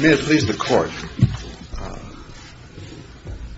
May it please the Court,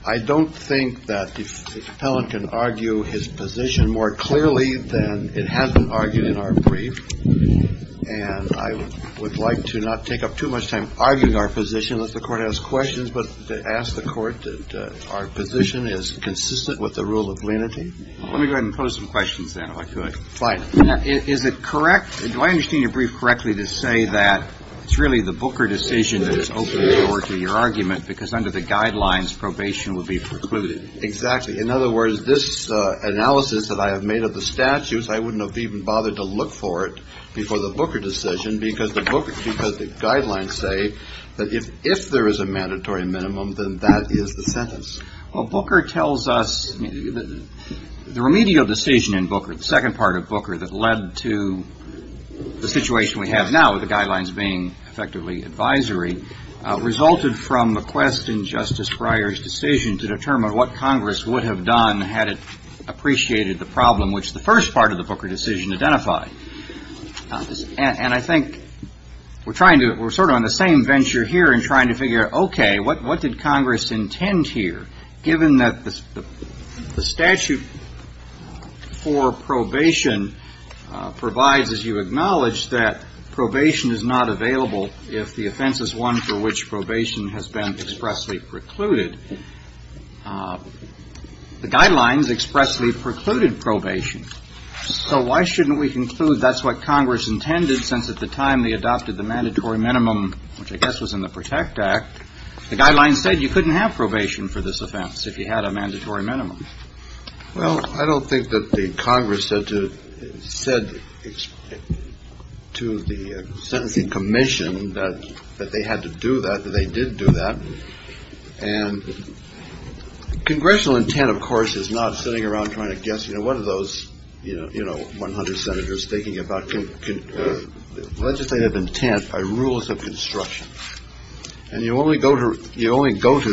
I don't think that the felon can argue his position more clearly than it has been argued in our brief, and I would like to not take up too much time arguing our position unless the Court has questions, but to ask the Court that our position is consistent with the rule of lenity. Let me go ahead and pose some questions, then, if I could. Fine. Is it correct, do I understand your brief correctly to say that it's really the Booker decision that has opened the door to your argument, because under the guidelines, probation would be precluded? Exactly. In other words, this analysis that I have made of the statutes, I wouldn't have even bothered to look for it before the Booker decision, because the book, because the guidelines say that if there is a mandatory minimum, then that is the sentence. Well, Booker tells us, the remedial decision in Booker, the second part of Booker that led to the situation we have now, with the guidelines being effectively advisory, resulted from a quest in Justice Breyer's decision to determine what Congress would have done had it appreciated the problem which the first part of the Booker decision identified, and I think we're trying to, we're sort of on the same venture here in trying to figure, okay, what did Congress intend here? Given that the statute for probation provides, as you acknowledge, that probation is not available if the offense is one for which probation has been expressly precluded, the guidelines expressly precluded probation. So why shouldn't we conclude that's what Congress intended, since at the time they adopted the mandatory minimum, which I guess was in the Protect Act, the guidelines said you couldn't have probation for this offense if you had a mandatory minimum? Well, I don't think that the Congress said to the sentencing commission that they had to do that, that they did do that. And congressional intent, of course, is not sitting around trying to guess, you know, what are those, you know, 100 senators thinking about legislative intent by rules of construction? And you only go to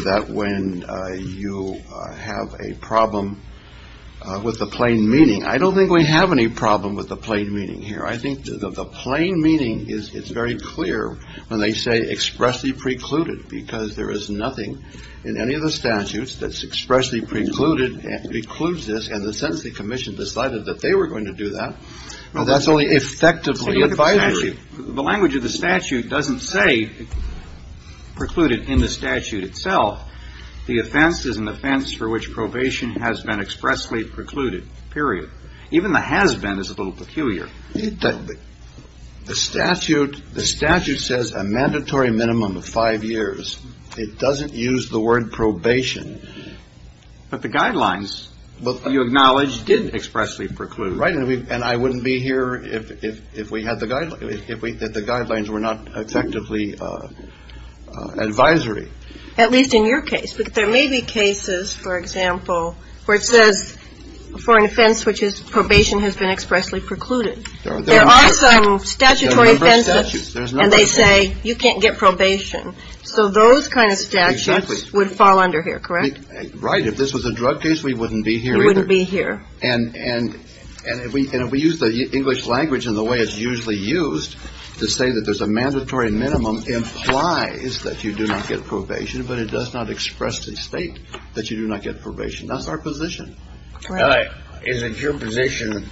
that when you have a problem with the plain meaning. I don't think we have any problem with the plain meaning here. I think the plain meaning is it's very clear when they say expressly precluded, because there is nothing in any of the statutes that's expressly precluded and precludes this, and the sentencing commission decided that they were going to do that, and that's only effectively advisory. The language of the statute doesn't say precluded in the statute itself. The offense is an offense for which probation has been expressly precluded, period. Even the has been is a little peculiar. The statute says a mandatory minimum of five years. It doesn't use the word probation. But the guidelines, you acknowledge, did expressly preclude. Right. And I wouldn't be here if we had the guidelines, if the guidelines were not effectively advisory. At least in your case. But there may be cases, for example, where it says for an offense which is probation has been expressly precluded. There are some statutory and they say you can't get probation. So those kind of statutes would fall under here. Correct. Right. If this was a drug case, we wouldn't be here. And if we use the English language in the way it's usually used to say that there's a mandatory minimum implies that you do not get probation, but it does not expressly state that you do not get probation. That's our position. Is it your position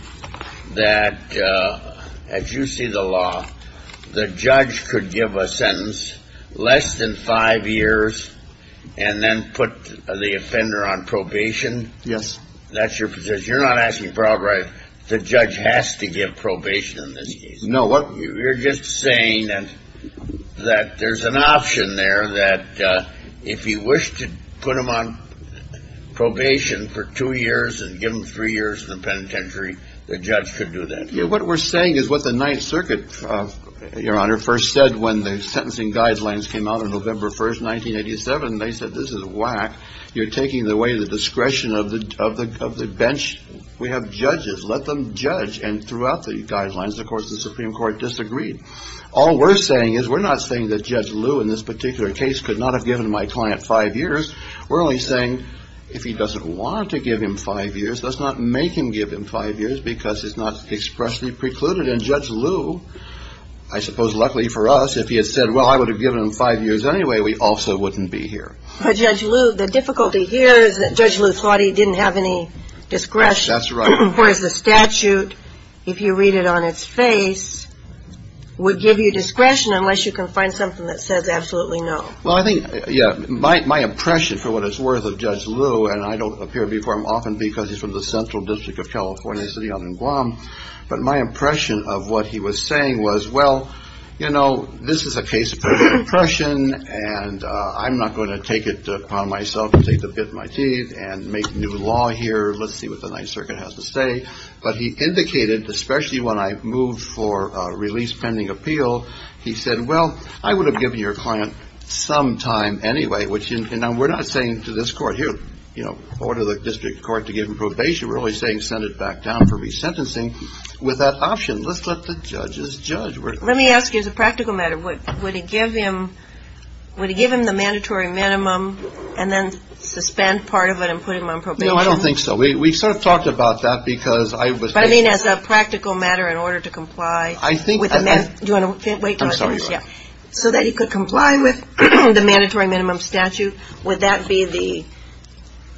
that as you see the law, the judge could give a sentence less than five years and then put the offender on probation? Yes. That's your position. You're not asking for a bribe. The judge has to give probation in this case. No. You're just saying that there's an option there that if you wish to put him on probation for two years and give him three years in the penitentiary, the judge could do that. What we're saying is what the Ninth Circuit, Your Honor, first said when the sentencing guidelines came out on November 1st, 1987. They said, this is whack. You're taking away the discretion of the bench. We have judges. Let them judge. And throughout the guidelines, of course, the Supreme Court disagreed. All we're saying is we're not saying that Judge Liu in this particular case could not have given my client five years. We're only saying if he doesn't want to give him five years, let's not make him give him five years because it's not expressly precluded. And Judge Liu, I suppose luckily for us, if he had said, well, I would have given him five years anyway, we also wouldn't be here. But Judge Liu, the difficulty here is that Judge Liu thought he didn't have any discretion. That's right. Whereas the statute, if you read it on its face, would give you discretion unless you can find something that says absolutely no. Well, I think, yeah, my impression for what it's worth of Judge Liu, and I don't appear before him often because he's from the central district of California, a city out in Guam, but my impression of what he was saying was, well, you know, this is a case of impression. And I'm not going to take it upon myself to take a bit of my teeth and make new law here. Let's see what the Ninth Circuit has to say. But he indicated, especially when I moved for release pending appeal, he said, well, I would have given your client some time anyway, which we're not saying to this court here, you know, order the district court to give him probation. We're only saying send it back down for resentencing with that option. Let's let the judges judge. Let me ask you, as a practical matter, would it give him the mandatory minimum and then suspend part of it and put him on probation? No, I don't think so. We sort of talked about that because I was. But I mean, as a practical matter, in order to comply. I think. Do you want to wait until I finish? I'm sorry. So that he could comply with the mandatory minimum statute. Would that be the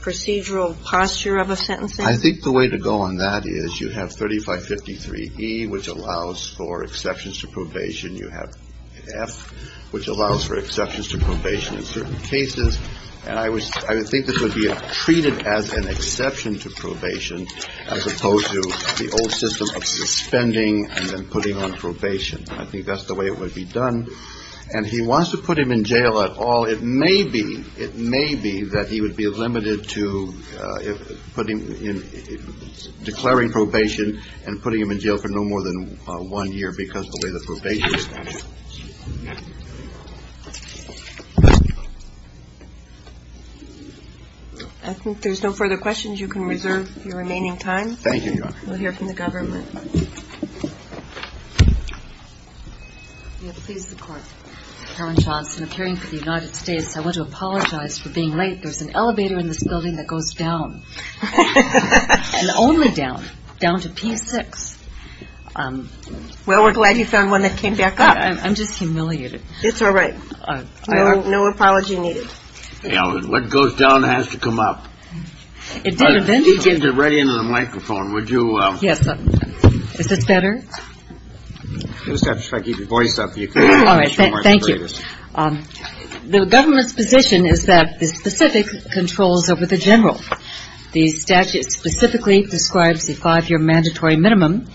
procedural posture of a sentence? I think the way to go on that is you have 3553 E, which allows for exceptions to probation. You have F, which allows for exceptions to probation in certain cases. And I was I think this would be treated as an exception to probation as opposed to the old system of suspending and then putting on probation. I think that's the way it would be done. And he wants to put him in jail at all. It may be. It may be that he would be limited to putting in declaring probation and putting him in jail for no more than one year because of the way the probation statute is. I think there's no further questions. You can reserve your remaining time. Thank you, Your Honor. We'll hear from the government. Please, the court. Karen Johnson, appearing for the United States. I want to apologize for being late. There's an elevator in this building that goes down and only down, down to P6. Well, we're glad you found one that came back up. I'm just humiliated. It's all right. No apology needed. What goes down has to come up. It did eventually. I'll get it right into the microphone. Would you? Yes. Is this better? Just have to try to keep your voice up. All right. Thank you. The government's position is that the specific controls over the general. The statute specifically describes the five-year mandatory minimum.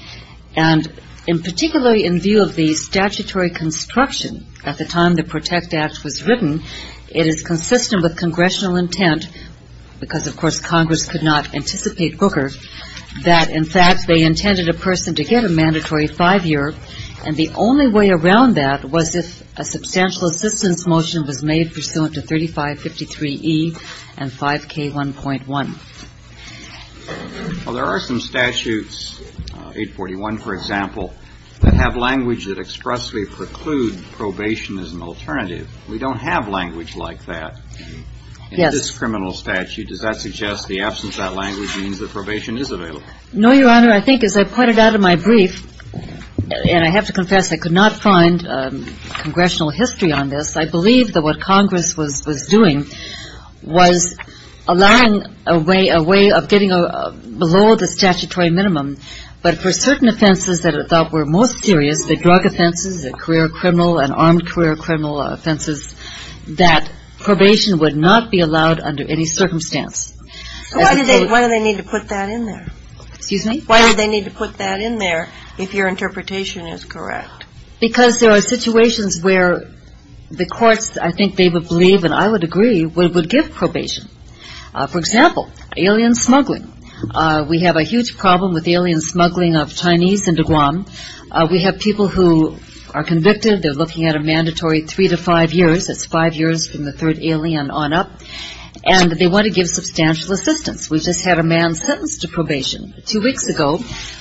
And in particular, in view of the statutory construction at the time the PROTECT Act was written, it is consistent with congressional intent, because, of course, Congress could not anticipate Booker, that, in fact, they intended a person to get a mandatory five-year. And the only way around that was if a substantial assistance motion was made pursuant to 3553E and 5K1.1. Well, there are some statutes, 841, for example, that have language that expressly preclude probation as an alternative. We don't have language like that. Yes. In this criminal statute, does that suggest the absence of that language means that probation is available? No, Your Honor. I think, as I pointed out in my brief, and I have to confess, I could not find congressional history on this. I believe that what Congress was doing was allowing a way of getting below the statutory minimum, but for certain offenses that I thought were most serious, the drug offenses, the career criminal and armed career criminal offenses, that probation would not be allowed under any circumstance. Why do they need to put that in there? Excuse me? Why do they need to put that in there if your interpretation is correct? Because there are situations where the courts, I think they would believe, and I would agree, would give probation. For example, alien smuggling. We have a huge problem with alien smuggling of Chinese into Guam. We have people who are convicted. They're looking at a mandatory three to five years. That's five years from the third alien on up, and they want to give substantial assistance. We just had a man sentenced to probation two weeks ago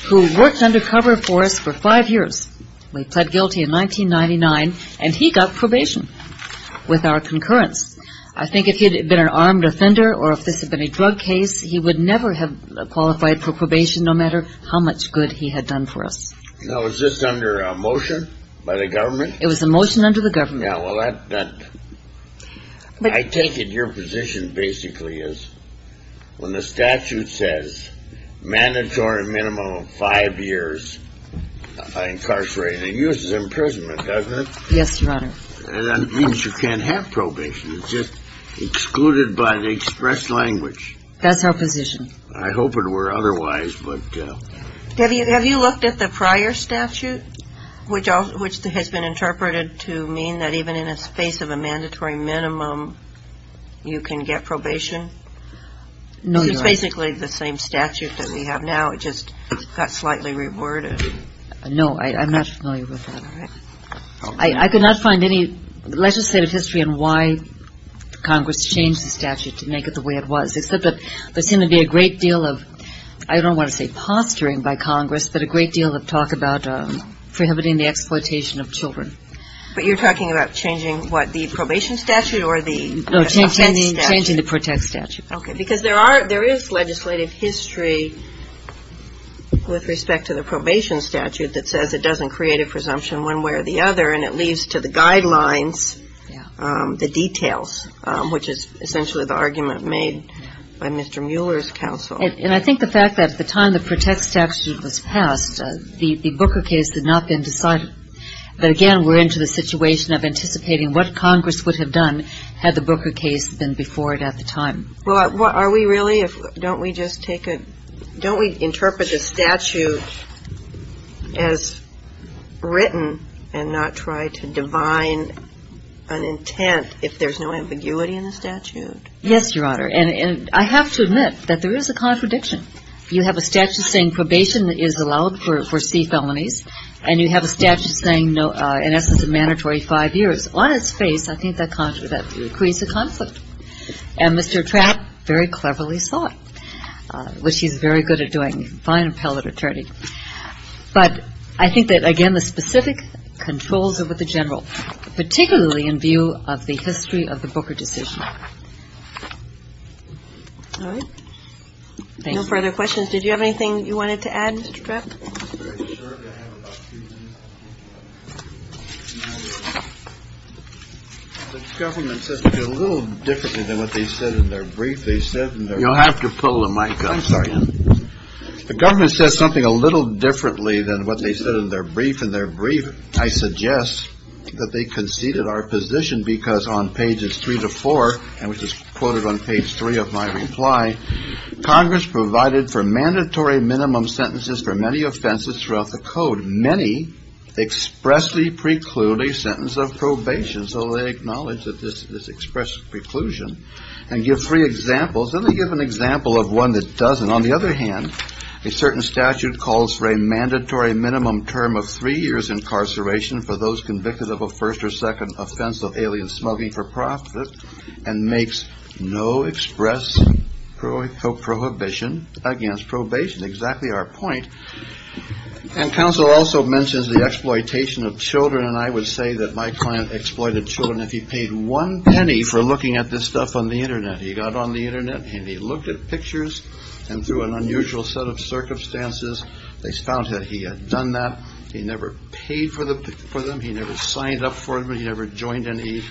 who worked undercover for us for five years. We pled guilty in 1999, and he got probation with our concurrence. I think if he had been an armed offender or if this had been a drug case, he would never have qualified for probation no matter how much good he had done for us. Now, is this under a motion by the government? It was a motion under the government. Yeah, well, I take it your position basically is when the statute says mandatory minimum of five years by incarcerating, it uses imprisonment, doesn't it? Yes, Your Honor. That means you can't have probation. It's just excluded by the express language. That's our position. I hope it were otherwise, but... Have you looked at the prior statute, which has been interpreted to mean that even in a space of a mandatory minimum, you can get probation? No, Your Honor. It's basically the same statute that we have now. It just got slightly reworded. No, I'm not familiar with that. All right. I could not find any legislative history on why Congress changed the statute to make it the way it was, except that there seemed to be a great deal of, I don't want to say posturing by Congress, but a great deal of talk about prohibiting the exploitation of children. But you're talking about changing what, the probation statute or the... No, changing the protect statute. Okay, because there is legislative history with respect to the probation statute that says it doesn't create a presumption one way or the other, and it leads to the guidelines, the details, which is essentially the argument made by Mr. Mueller's counsel. And I think the fact that at the time the protect statute was passed, the Booker case had not been decided. But again, we're into the situation of anticipating what Congress would have done had the Booker case been before it at the time. Well, are we really? Don't we just take a, don't we interpret the statute as written and not try to divine an intent if there's no ambiguity in the statute? Yes, Your Honor. And I have to admit that there is a contradiction. You have a statute saying probation is allowed for C felonies, and you have a statute saying no, in essence, a mandatory five years. On its face, I think that creates a conflict. And Mr. Trapp very cleverly saw it, which he's very good at doing, fine appellate attorney. But I think that, again, the specific controls are with the General, particularly in view of the history of the Booker decision. All right. No further questions. The government says a little differently than what they said in their brief. They said you'll have to pull the mic. I'm sorry. The government says something a little differently than what they said in their brief in their brief. I suggest that they conceded our position because on pages three to four and which is quoted on page three of my reply, Congress provided for mandatory minimum sentences for many offenses throughout the code. Many expressly preclude a sentence of probation. So they acknowledge that this is expressed preclusion and give three examples. Let me give an example of one that doesn't. On the other hand, a certain statute calls for a mandatory minimum term of three years incarceration for those convicted of a first or second offense of alien smuggling for profit and makes no express prohibition against probation. Exactly our point. And counsel also mentions the exploitation of children. And I would say that my client exploited children. If he paid one penny for looking at this stuff on the Internet, he got on the Internet and he looked at pictures and through an unusual set of circumstances. They found that he had done that. He never paid for them. He never signed up for him. He never joined any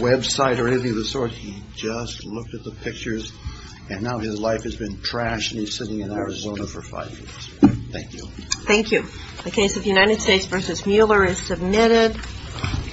Web site or anything of the sort. He just looked at the pictures and now his life has been trashed. He's sitting in Arizona for five years. Thank you. Thank you. The case of the United States versus Mueller is submitted.